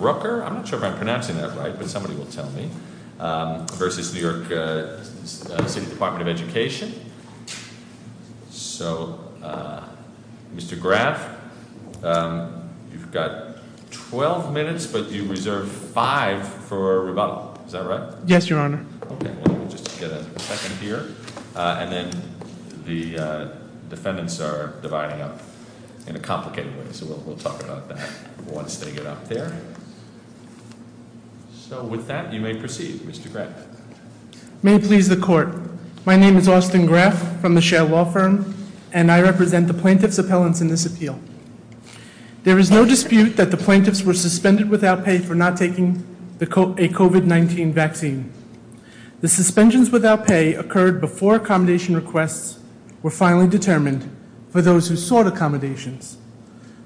Mr. Graf, you've got 12 minutes, but you reserve 5 for rebuttal, is that right? Yes, Your Honor. Okay, we'll just get a second here, and then the defendants are dividing up in a complicated way, so we'll talk about that once they get up there. So with that, you may proceed, Mr. Graf. May it please the court, my name is Austin Graf from the Shell Law Firm, and I represent the plaintiff's appellants in this appeal. There is no dispute that the plaintiffs were suspended without pay for not taking a COVID-19 vaccine. The suspensions without pay occurred before accommodation requests were finally determined for those who sought accommodations.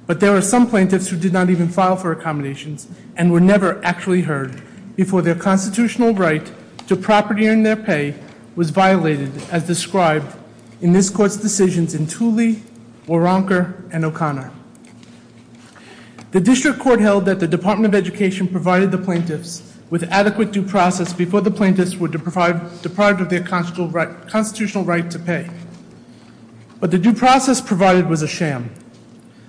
But there were some plaintiffs who did not even file for accommodations, and were never actually heard, before their constitutional right to property and their pay was violated, as described in this court's decisions in Tooley, Waronker, and O'Connor. The district court held that the Department of Education provided the plaintiffs with adequate due process before the plaintiffs were deprived of their constitutional right to pay. But the due process provided was a sham.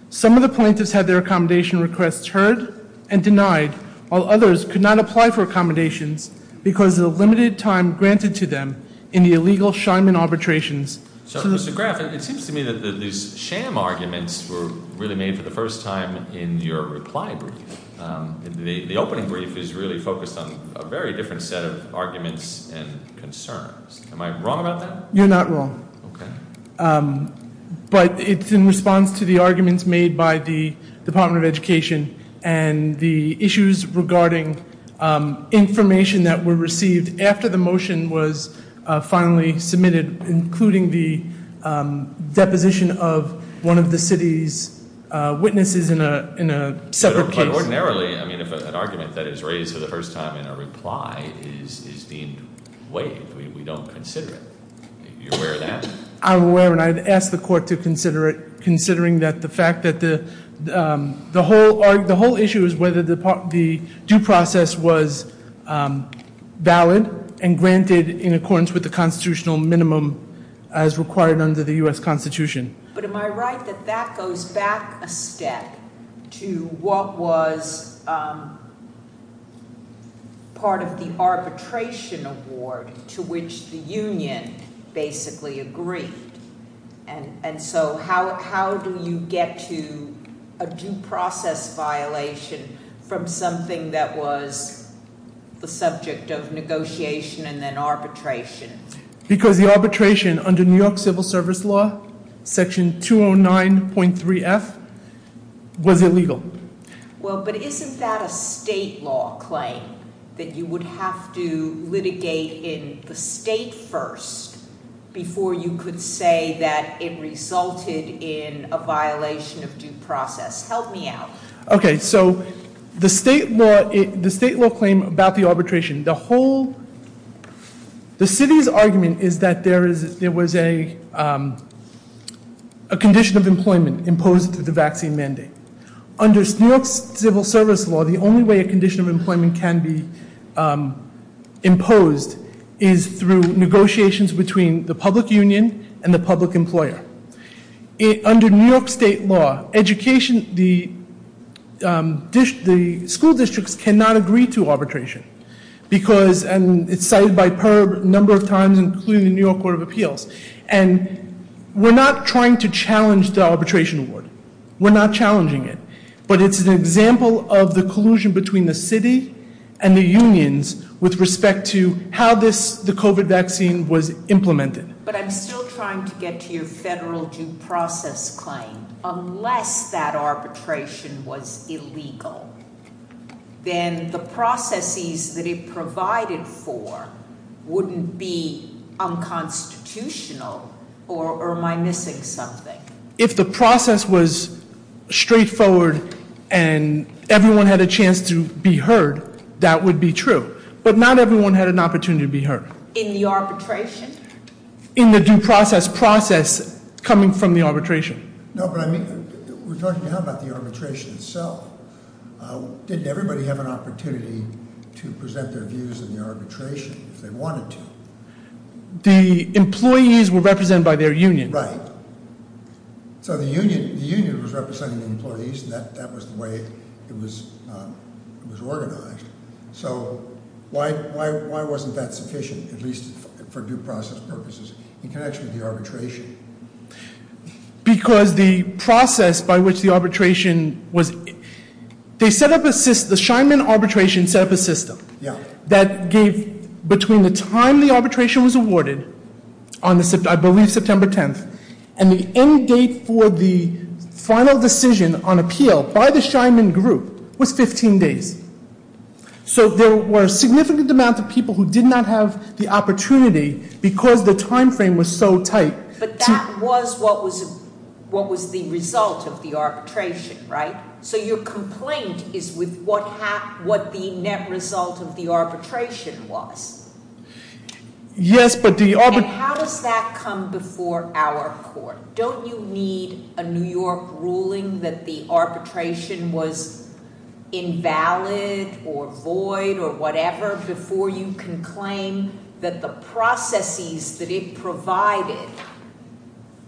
Some of the plaintiffs had their accommodation requests heard and denied, while others could not apply for accommodations because of the limited time granted to them in the illegal Scheinman arbitrations. So, Mr. Graf, it seems to me that these sham arguments were really made for the first time in your reply brief. The opening brief is really focused on a very different set of arguments and concerns. Am I wrong about that? You're not wrong. Okay. But it's in response to the arguments made by the Department of Education and the issues regarding information that were received after the motion was finally submitted, including the deposition of one of the city's witnesses in a separate case. But ordinarily, I mean, if an argument that is raised for the first time in a reply is deemed waived, we don't consider it. Are you aware of that? I'm aware, and I'd ask the court to consider it, considering that the fact that the whole issue is whether the due process was valid and granted in accordance with the constitutional minimum as required under the U.S. Constitution. But am I right that that goes back a step to what was part of the arbitration award to which the union basically agreed? And so how do you get to a due process violation from something that was the subject of negotiation and then arbitration? Because the arbitration under New York Civil Service Law, Section 209.3F, was illegal. Well, but isn't that a state law claim that you would have to litigate in the state first before you could say that it resulted in a violation of due process? Help me out. Okay, so the state law claim about the arbitration, the city's argument is that there was a condition of employment imposed through the vaccine mandate. Under New York's civil service law, the only way a condition of employment can be imposed is through negotiations between the public union and the public employer. Under New York state law, the school districts cannot agree to arbitration. Because, and it's cited by PERB a number of times, including the New York Court of Appeals. And we're not trying to challenge the arbitration award. We're not challenging it. But it's an example of the collusion between the city and the unions with respect to how the COVID vaccine was implemented. But I'm still trying to get to your federal due process claim. Unless that arbitration was illegal, then the processes that it provided for wouldn't be unconstitutional or am I missing something? If the process was straightforward and everyone had a chance to be heard, that would be true. But not everyone had an opportunity to be heard. In the arbitration? In the due process process coming from the arbitration. No, but I mean, we're talking about the arbitration itself. Didn't everybody have an opportunity to present their views in the arbitration if they wanted to? The employees were represented by their union. Right. So the union was representing the employees and that was the way it was organized. So why wasn't that sufficient, at least for due process purposes, in connection with the arbitration? Because the process by which the arbitration was, the Scheinman arbitration set up a system- Yeah. That gave between the time the arbitration was awarded, I believe September 10th, and the end date for the final decision on appeal by the Scheinman group was 15 days. So there were a significant amount of people who did not have the opportunity because the time frame was so tight. But that was what was the result of the arbitration, right? So your complaint is with what the net result of the arbitration was. Yes, but the- And how does that come before our court? Don't you need a New York ruling that the arbitration was invalid or void or whatever before you can claim that the processes that it provided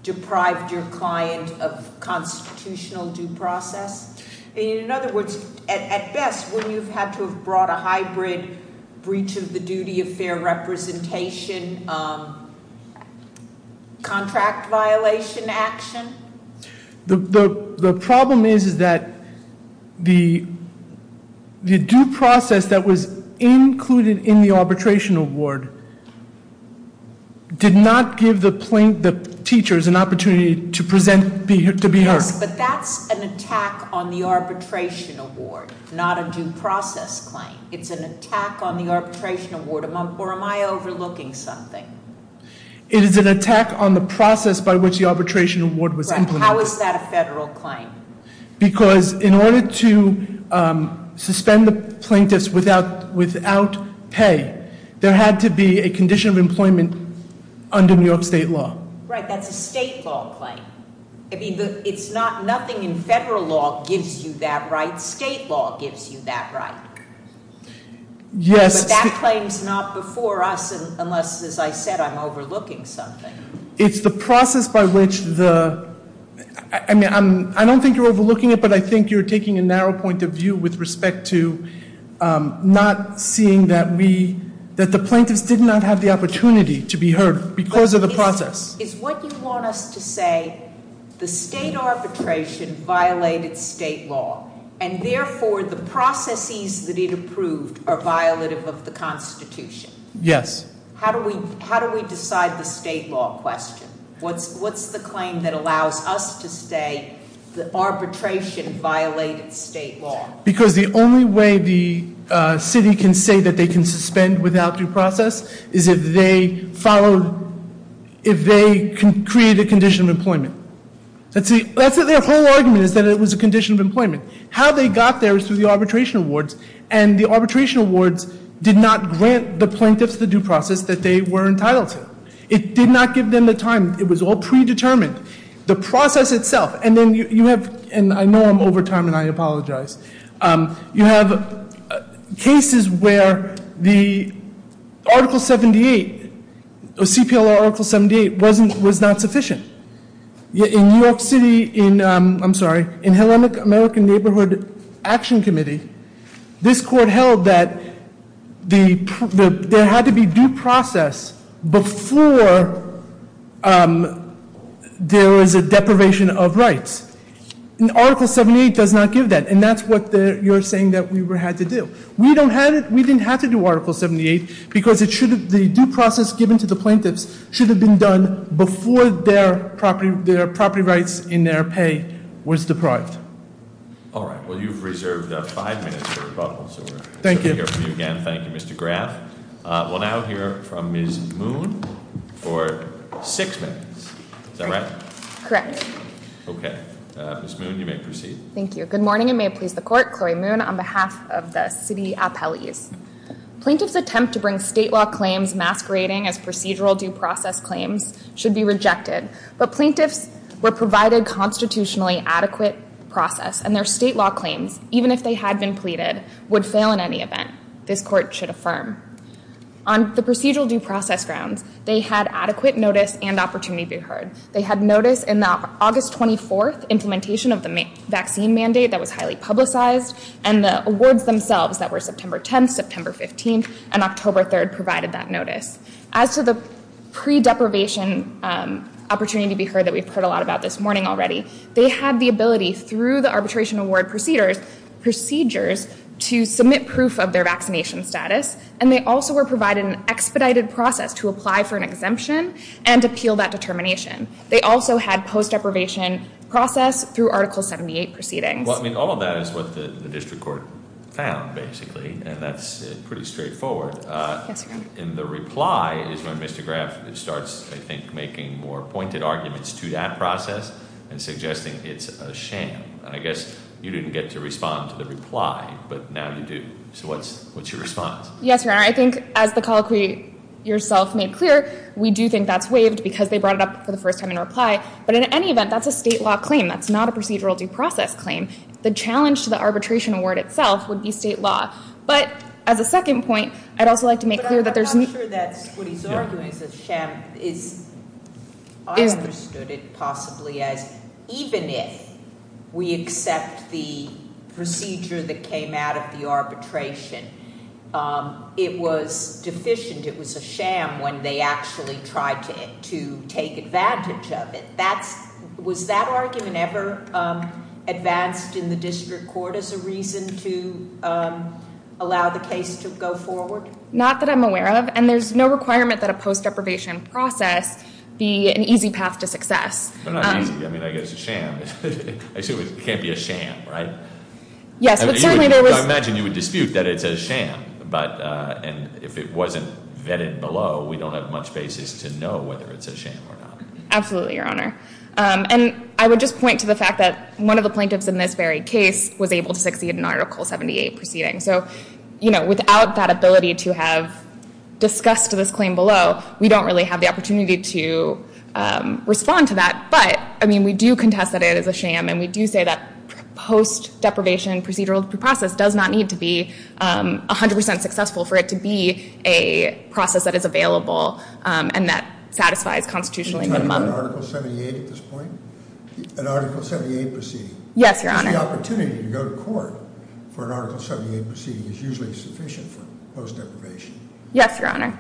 deprived your client of constitutional due process? In other words, at best, wouldn't you have had to have brought a hybrid breach of the duty of fair representation, contract violation action? The problem is that the due process that was included in the arbitration award did not give the teachers an opportunity to be heard. Yes, but that's an attack on the arbitration award, not a due process claim. It's an attack on the arbitration award, or am I overlooking something? It is an attack on the process by which the arbitration award was implemented. How is that a federal claim? Because in order to suspend the plaintiffs without pay, there had to be a condition of employment under New York state law. Right, that's a state law claim. It's not nothing in federal law gives you that right. State law gives you that right. Yes. But that claim's not before us unless, as I said, I'm overlooking something. It's the process by which the, I mean, I don't think you're overlooking it, but I think you're taking a narrow point of view with respect to not seeing that we, that the plaintiffs did not have the opportunity to be heard because of the process. Is what you want us to say, the state arbitration violated state law, and therefore the processes that it approved are violative of the Constitution? Yes. How do we decide the state law question? What's the claim that allows us to say the arbitration violated state law? Because the only way the city can say that they can suspend without due process is if they follow, if they create a condition of employment. That's their whole argument is that it was a condition of employment. How they got there is through the arbitration awards, and the arbitration awards did not grant the plaintiffs the due process that they were entitled to. It did not give them the time. It was all predetermined. The process itself, and then you have, and I know I'm over time and I apologize, you have cases where the Article 78, CPLR Article 78 was not sufficient. In New York City, I'm sorry, in Hellenic American Neighborhood Action Committee, this court held that there had to be due process before there was a deprivation of rights. And Article 78 does not give that, and that's what you're saying that we had to do. We didn't have to do Article 78 because the due process given to the plaintiffs should have been done before their property rights in their pay was deprived. All right, well you've reserved five minutes for rebuttals. Thank you. Thank you, Mr. Graf. We'll now hear from Ms. Moon for six minutes. Is that right? Correct. Okay. Ms. Moon, you may proceed. Thank you. Good morning, and may it please the court. Chloe Moon on behalf of the city appellees. Plaintiffs' attempt to bring state law claims masquerading as procedural due process claims should be rejected, but plaintiffs were provided constitutionally adequate process, and their state law claims, even if they had been pleaded, would fail in any event, this court should affirm. On the procedural due process grounds, they had adequate notice and opportunity to be heard. They had notice in the August 24th implementation of the vaccine mandate that was highly publicized, and the awards themselves that were September 10th, September 15th, and October 3rd provided that notice. As to the pre-deprivation opportunity to be heard that we've heard a lot about this morning already, they had the ability through the arbitration award procedures to submit proof of their vaccination status, and they also were provided an expedited process to apply for an exemption and appeal that determination. They also had post-deprivation process through Article 78 proceedings. Well, I mean, all of that is what the district court found, basically, and that's pretty straightforward. Yes, Your Honor. And the reply is when Mr. Graf starts, I think, making more pointed arguments to that process and suggesting it's a sham, and I guess you didn't get to respond to the reply, but now you do. So what's your response? Yes, Your Honor. I think as the colloquy yourself made clear, we do think that's waived because they brought it up for the first time in reply, but in any event, that's a state law claim. That's not a procedural due process claim. The challenge to the arbitration award itself would be state law. But as a second point, I'd also like to make clear that there's no— It was deficient. It was a sham when they actually tried to take advantage of it. Was that argument ever advanced in the district court as a reason to allow the case to go forward? Not that I'm aware of, and there's no requirement that a post-deprivation process be an easy path to success. But not easy. I mean, I guess a sham. It can't be a sham, right? Yes, but certainly there was— I imagine you would dispute that it's a sham. But if it wasn't vetted below, we don't have much basis to know whether it's a sham or not. Absolutely, Your Honor. And I would just point to the fact that one of the plaintiffs in this very case was able to succeed in Article 78 proceeding. So, you know, without that ability to have discussed this claim below, we don't really have the opportunity to respond to that. But, I mean, we do contest that it is a sham, and we do say that post-deprivation procedural process does not need to be 100% successful for it to be a process that is available and that satisfies constitutionally minimum. Are you talking about Article 78 at this point? An Article 78 proceeding? Yes, Your Honor. Because the opportunity to go to court for an Article 78 proceeding is usually sufficient for post-deprivation process, right? Yes, Your Honor.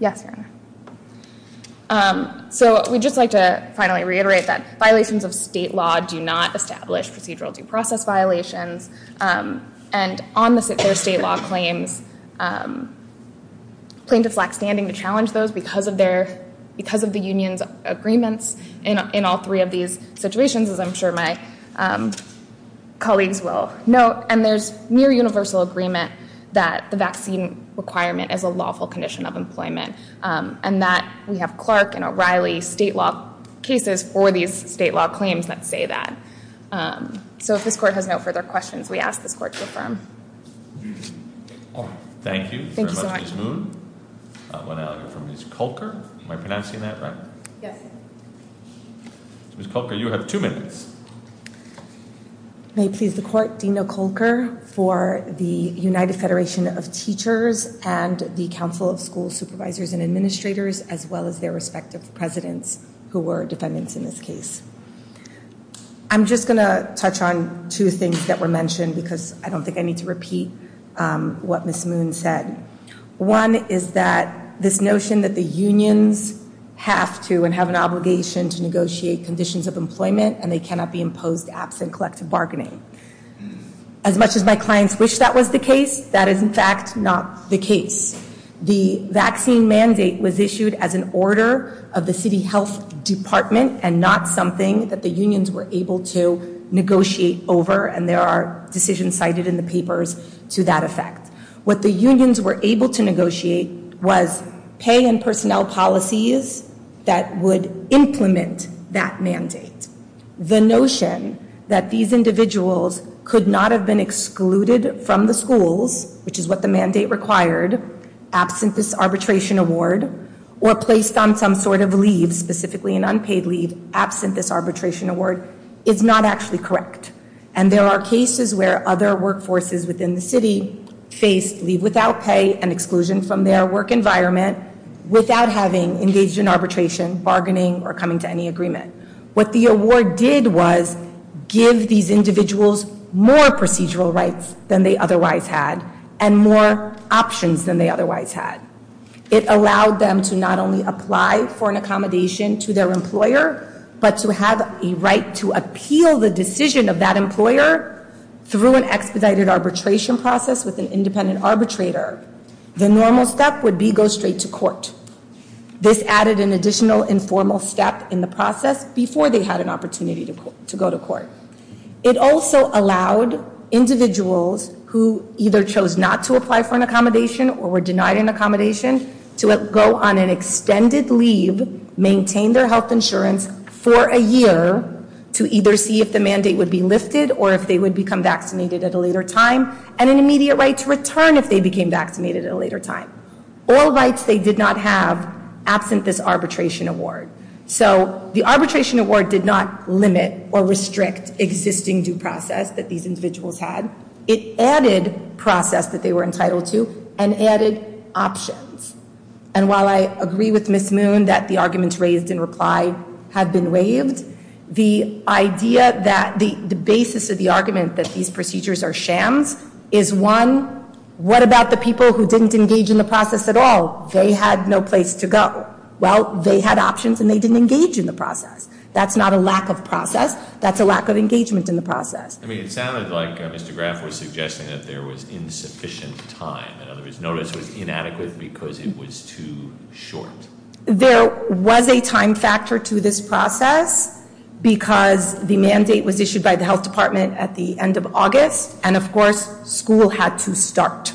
Yes, Your Honor. So we'd just like to finally reiterate that violations of state law do not establish procedural due process violations. And on their state law claims, plaintiffs lack standing to challenge those because of the union's agreements in all three of these situations, as I'm sure my colleagues will note. And there's near universal agreement that the vaccine requirement is a lawful condition of employment, and that we have Clark and O'Reilly state law cases for these state law claims that say that. So if this Court has no further questions, we ask this Court to affirm. Thank you very much, Ms. Moon. Thank you so much. We'll now hear from Ms. Kolker. Am I pronouncing that right? Yes. Ms. Kolker, you have two minutes. May it please the Court, Dean O'Kolker for the United Federation of Teachers and the Council of School Supervisors and Administrators, as well as their respective presidents who were defendants in this case. I'm just going to touch on two things that were mentioned because I don't think I need to repeat what Ms. Moon said. One is that this notion that the unions have to and have an obligation to negotiate conditions of employment and they cannot be imposed absent collective bargaining. As much as my clients wish that was the case, that is in fact not the case. The vaccine mandate was issued as an order of the city health department and not something that the unions were able to negotiate over, and there are decisions cited in the papers to that effect. What the unions were able to negotiate was pay and personnel policies that would implement that mandate. The notion that these individuals could not have been excluded from the schools, which is what the mandate required, absent this arbitration award, or placed on some sort of leave, specifically an unpaid leave, absent this arbitration award, is not actually correct. And there are cases where other workforces within the city face leave without pay and exclusion from their work environment without having engaged in arbitration, bargaining, or coming to any agreement. What the award did was give these individuals more procedural rights than they otherwise had and more options than they otherwise had. It allowed them to not only apply for an accommodation to their employer, but to have a right to appeal the decision of that employer through an expedited arbitration process with an independent arbitrator. The normal step would be go straight to court. This added an additional informal step in the process before they had an opportunity to go to court. It also allowed individuals who either chose not to apply for an accommodation or were denied an accommodation to go on an extended leave, maintain their health insurance for a year, to either see if the mandate would be lifted or if they would become vaccinated at a later time, and an immediate right to return if they became vaccinated at a later time. All rights they did not have absent this arbitration award. So the arbitration award did not limit or restrict existing due process that these individuals had. It added process that they were entitled to and added options. And while I agree with Ms. Moon that the arguments raised in reply have been waived, the idea that the basis of the argument that these procedures are shams is one, what about the people who didn't engage in the process at all? They had no place to go. Well, they had options and they didn't engage in the process. That's not a lack of process. That's a lack of engagement in the process. I mean, it sounded like Mr. Graf was suggesting that there was insufficient time. In other words, notice was inadequate because it was too short. There was a time factor to this process because the mandate was issued by the health department at the end of August. And of course, school had to start.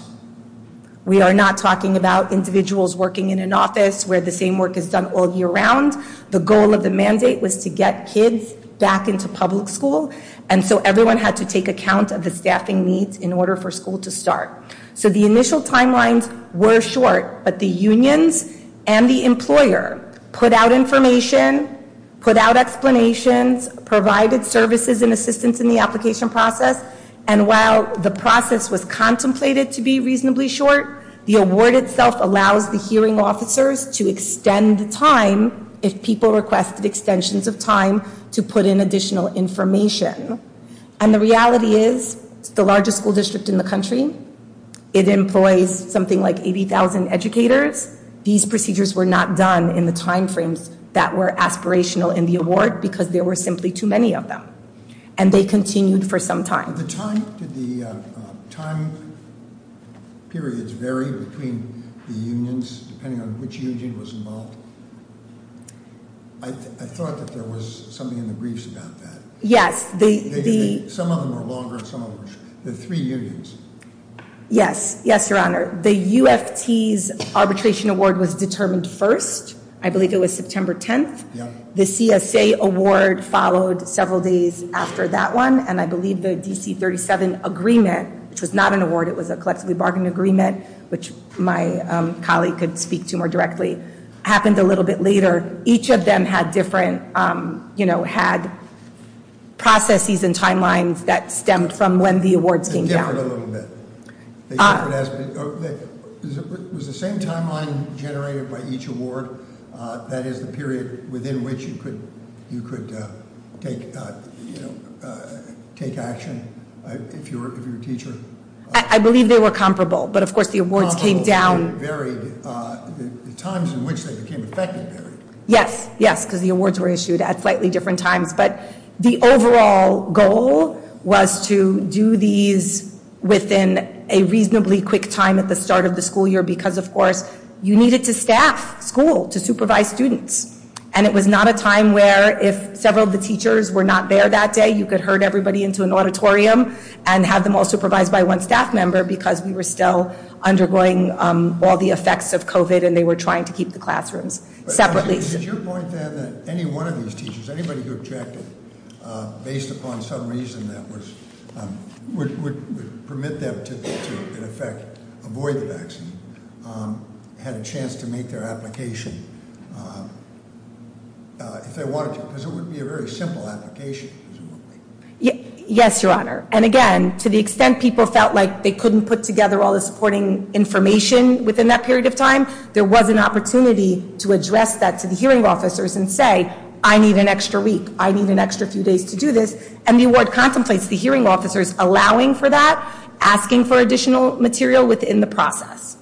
We are not talking about individuals working in an office where the same work is done all year round. The goal of the mandate was to get kids back into public school. And so everyone had to take account of the staffing needs in order for school to start. So the initial timelines were short, but the unions and the employer put out information, put out explanations, provided services and assistance in the application process. And while the process was contemplated to be reasonably short, the award itself allows the hearing officers to extend the time if people requested extensions of time to put in additional information. And the reality is, it's the largest school district in the country. It employs something like 80,000 educators. These procedures were not done in the timeframes that were aspirational in the award because there were simply too many of them. And they continued for some time. At the time, did the time periods vary between the unions depending on which union was involved? I thought that there was something in the briefs about that. Yes. Some of them were longer and some of them were shorter. The three unions. Yes. Yes, Your Honor. The UFT's arbitration award was determined first. I believe it was September 10th. The CSA award followed several days after that one. And I believe the DC 37 agreement, which was not an award, it was a collectively bargained agreement, which my colleague could speak to more directly, happened a little bit later. Each of them had different, you know, had processes and timelines that stemmed from when the awards came down. Was the same timeline generated by each award? That is the period within which you could take action if you were a teacher? I believe they were comparable. But of course the awards came down. Comparable and varied. The times in which they became effective varied. Yes. Yes, because the awards were issued at slightly different times. But the overall goal was to do these within a reasonably quick time at the start of the school year because, of course, you needed to staff school to supervise students. And it was not a time where if several of the teachers were not there that day, you could herd everybody into an auditorium and have them all supervised by one staff member because we were still undergoing all the effects of COVID and they were trying to keep the classrooms separately. Did your point then that any one of these teachers, anybody who objected based upon some reason that would permit them to, in effect, avoid the vaccine, had a chance to make their application if they wanted to? Because it would be a very simple application, presumably. Yes, Your Honor. And again, to the extent people felt like they couldn't put together all the supporting information within that period of time, there was an opportunity to address that to the hearing officers and say, I need an extra week. I need an extra few days to do this. And the award contemplates the hearing officers allowing for that, asking for additional material within the process.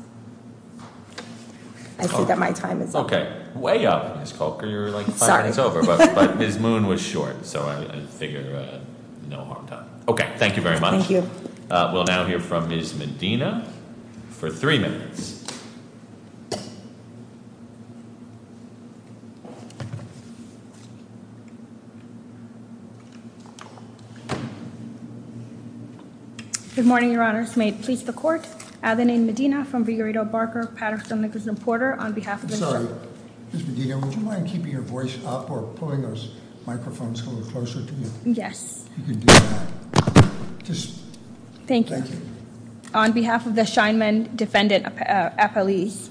I see that my time is up. OK. Way up, Ms. Culker. You were like five minutes over. Sorry. But Ms. Moon was short. So I figure no harm done. OK. Thank you very much. Thank you. We'll now hear from Ms. Medina for three minutes. Good morning, Your Honors. May it please the Court. I have the name Medina from Vigarito Barker, Patterson, Nicholas, and Porter on behalf of the court. I'm sorry. Ms. Medina, would you mind keeping your voice up or pulling those microphones a little closer to you? Yes. You can do that. Thank you. On behalf of the Scheinman Defendant Appellees,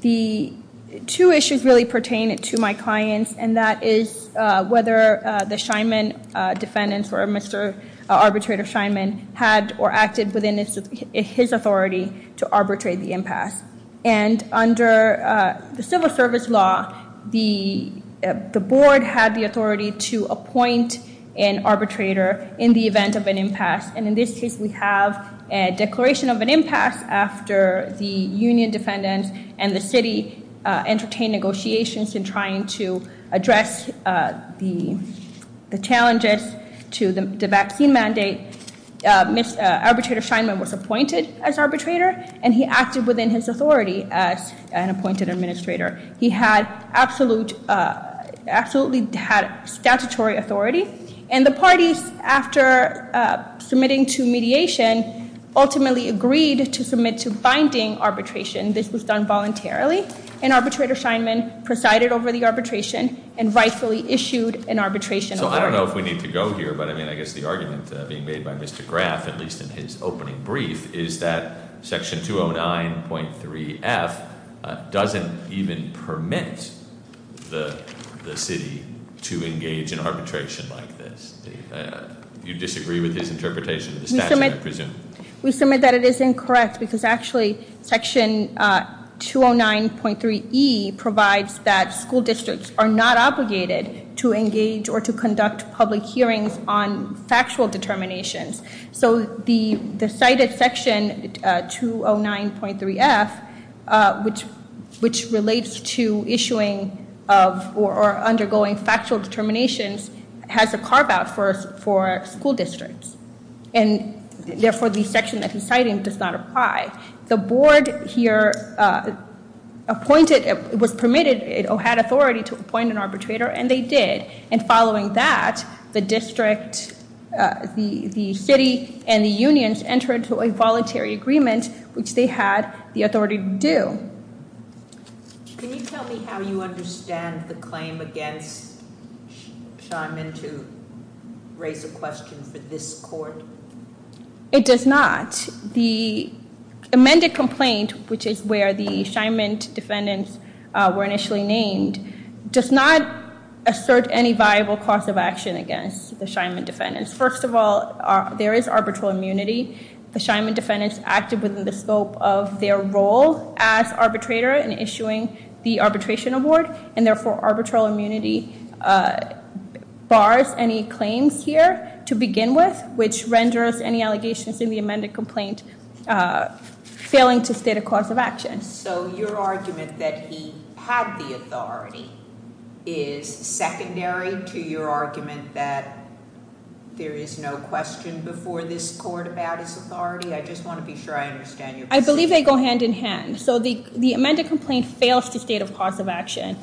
the two issues really pertain to my clients, and that is whether the Scheinman defendants or Mr. Arbitrator Scheinman had or acted within his authority to arbitrate the impasse. And under the civil service law, the board had the authority to appoint an arbitrator in the event of an impasse. And in this case, we have a declaration of an impasse after the union defendants and the city entertained negotiations in trying to address the challenges to the vaccine mandate. Mr. Arbitrator Scheinman was appointed as arbitrator, and he acted within his authority as an appointed administrator. He had absolutely statutory authority. And the parties, after submitting to mediation, ultimately agreed to submit to binding arbitration. This was done voluntarily, and Arbitrator Scheinman presided over the arbitration and rightfully issued an arbitration order. I don't know if we need to go here, but I guess the argument being made by Mr. Graf, at least in his opening brief, is that section 209.3F doesn't even permit the city to engage in arbitration like this. You disagree with his interpretation of the statute, I presume? We submit that it is incorrect, because actually section 209.3E provides that school districts are not obligated to engage or to conduct public hearings on factual determinations. So the cited section 209.3F, which relates to issuing of or undergoing factual determinations, has a carve-out for school districts, and therefore the section that he's citing does not apply. The board here was permitted or had authority to appoint an arbitrator, and they did. And following that, the district, the city, and the unions entered into a voluntary agreement, which they had the authority to do. Can you tell me how you understand the claim against Scheinman to raise a question for this court? It does not. The amended complaint, which is where the Scheinman defendants were initially named, does not assert any viable cause of action against the Scheinman defendants. First of all, there is arbitral immunity. The Scheinman defendants acted within the scope of their role as arbitrator in issuing the arbitration award, and therefore arbitral immunity bars any claims here to begin with, which renders any allegations in the amended complaint failing to state a cause of action. So your argument that he had the authority is secondary to your argument that there is no question before this court about his authority? I just want to be sure I understand your position. I believe they go hand in hand. So the amended complaint fails to state a cause of action,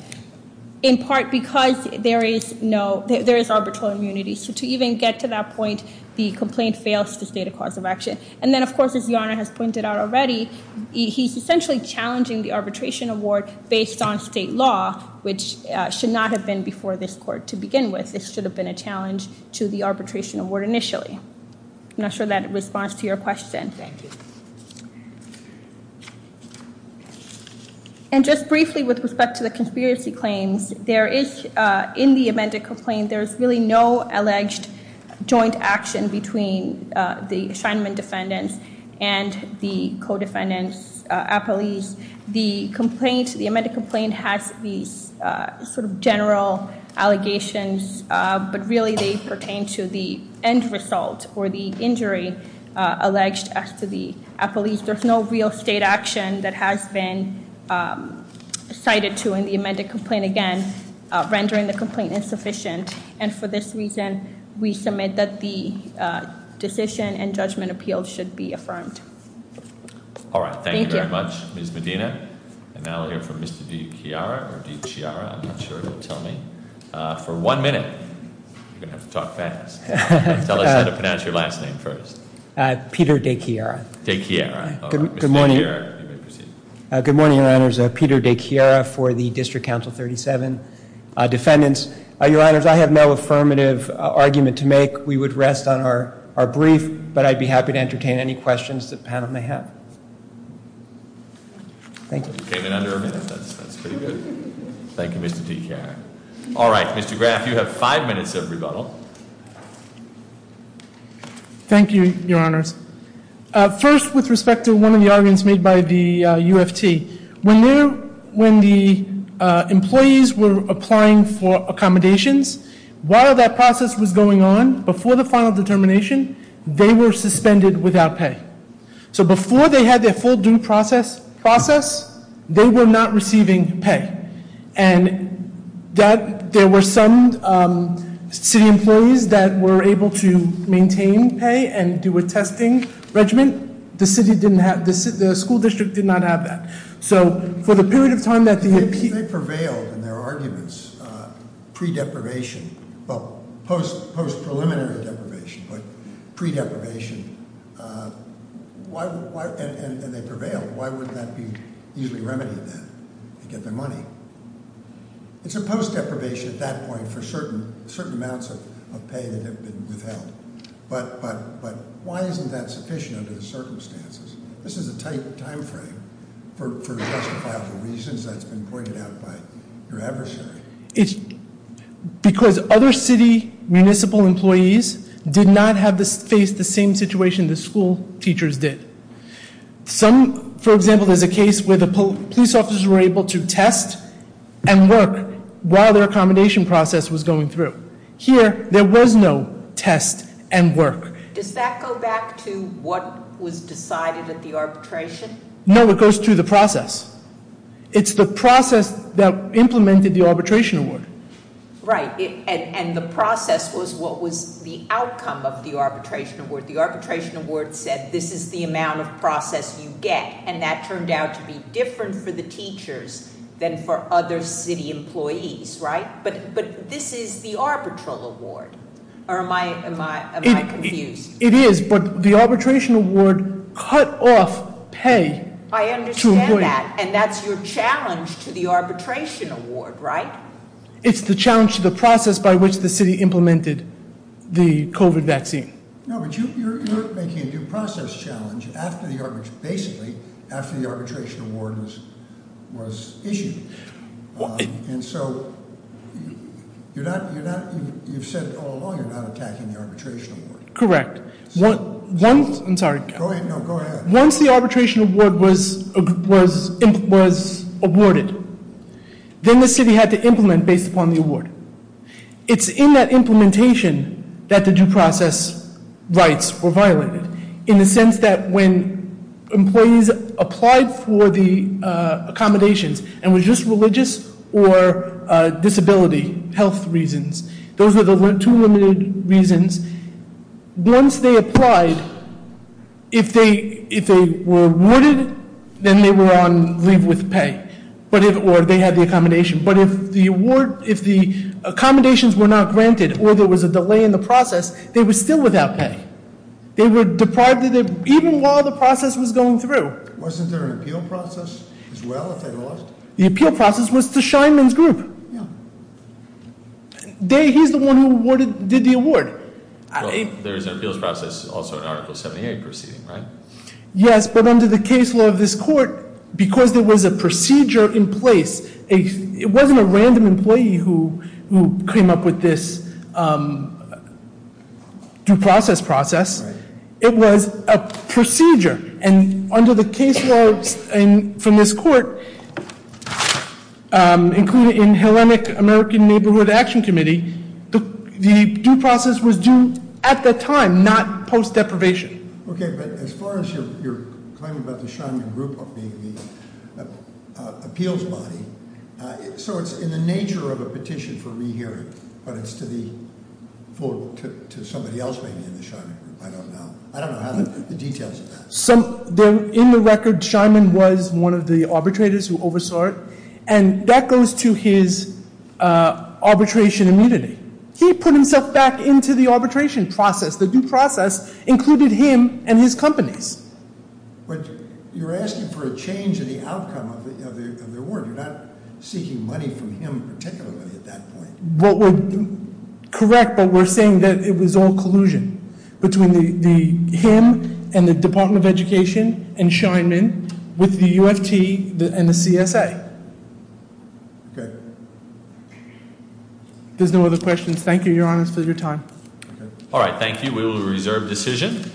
in part because there is no—there is arbitral immunity. So to even get to that point, the complaint fails to state a cause of action. And then, of course, as the Honor has pointed out already, he's essentially challenging the arbitration award based on state law, which should not have been before this court to begin with. This should have been a challenge to the arbitration award initially. I'm not sure that responds to your question. Thank you. And just briefly with respect to the conspiracy claims, there is, in the amended complaint, there is really no alleged joint action between the Shineman defendants and the co-defendants at police. The complaint, the amended complaint, has these sort of general allegations, but really they pertain to the end result or the injury alleged as to the police. There's no real state action that has been cited to in the amended complaint. Again, rendering the complaint insufficient. And for this reason, we submit that the decision and judgment appeal should be affirmed. All right. Thank you very much, Ms. Medina. And now we'll hear from Mr. DeChiara. I'm not sure he'll tell me. For one minute, you're going to have to talk fast. Tell us how to pronounce your last name first. Peter DeChiara. DeChiara. All right. Mr. DeChiara, you may proceed. Good morning, Your Honors. Peter DeChiara for the District Council 37 defendants. Your Honors, I have no affirmative argument to make. We would rest on our brief, but I'd be happy to entertain any questions the panel may have. Thank you. You came in under a minute. That's pretty good. Thank you, Mr. DeChiara. All right. Mr. Graff, you have five minutes of rebuttal. Thank you, Your Honors. First, with respect to one of the arguments made by the UFT, when the employees were applying for accommodations, while that process was going on, before the final determination, they were suspended without pay. So before they had their full due process, they were not receiving pay. And there were some city employees that were able to maintain pay and do a testing regimen. The school district did not have that. So for the period of time that the- If they prevailed in their arguments pre-deprivation, well, post-preliminary deprivation, but pre-deprivation, and they prevailed, why would that be easily remedied then? They get their money. It's a post-deprivation at that point for certain amounts of pay that have been withheld. But why isn't that sufficient under the circumstances? This is a tight time frame for justifiable reasons that's been pointed out by your adversary. It's because other city municipal employees did not face the same situation the school teachers did. Some, for example, there's a case where the police officers were able to test and work while their accommodation process was going through. Here, there was no test and work. Does that go back to what was decided at the arbitration? No, it goes through the process. It's the process that implemented the arbitration award. Right, and the process was what was the outcome of the arbitration award. The arbitration award said this is the amount of process you get, and that turned out to be different for the teachers than for other city employees, right? But this is the arbitral award, or am I confused? It is, but the arbitration award cut off pay to avoid- I understand that, and that's your challenge to the arbitration award, right? It's the challenge to the process by which the city implemented the COVID vaccine. No, but you're making a due process challenge basically after the arbitration award was issued. And so you've said all along you're not attacking the arbitration award. Correct. I'm sorry. Go ahead. No, go ahead. Once the arbitration award was awarded, then the city had to implement based upon the award. It's in that implementation that the due process rights were violated. In the sense that when employees applied for the accommodations, and was just religious or disability health reasons. Those are the two limited reasons. Once they applied, if they were awarded, then they were on leave with pay, or they had the accommodation. But if the accommodations were not granted or there was a delay in the process, they were still without pay. They were deprived of it, even while the process was going through. Wasn't there an appeal process as well if they lost? The appeal process was to Scheinman's group. Yeah. He's the one who did the award. Well, there is an appeals process also in Article 78 proceeding, right? Yes, but under the case law of this court, because there was a procedure in place. It wasn't a random employee who came up with this due process process. It was a procedure. And under the case laws from this court, included in Hellenic American Neighborhood Action Committee, the due process was due at the time, not post deprivation. Okay, but as far as your claim about the Scheinman group being the appeals body, so it's in the nature of a petition for rehearing, but it's to somebody else maybe in the Scheinman group. I don't know. I don't know the details of that. In the record, Scheinman was one of the arbitrators who oversaw it, and that goes to his arbitration immunity. He put himself back into the arbitration process. Included him and his companies. But you're asking for a change in the outcome of the award. You're not seeking money from him particularly at that point. Well, correct, but we're saying that it was all collusion between him and the Department of Education and Scheinman with the UFT and the CSA. There's no other questions. Thank you, Your Honor, for your time. All right, thank you. We will reserve decision.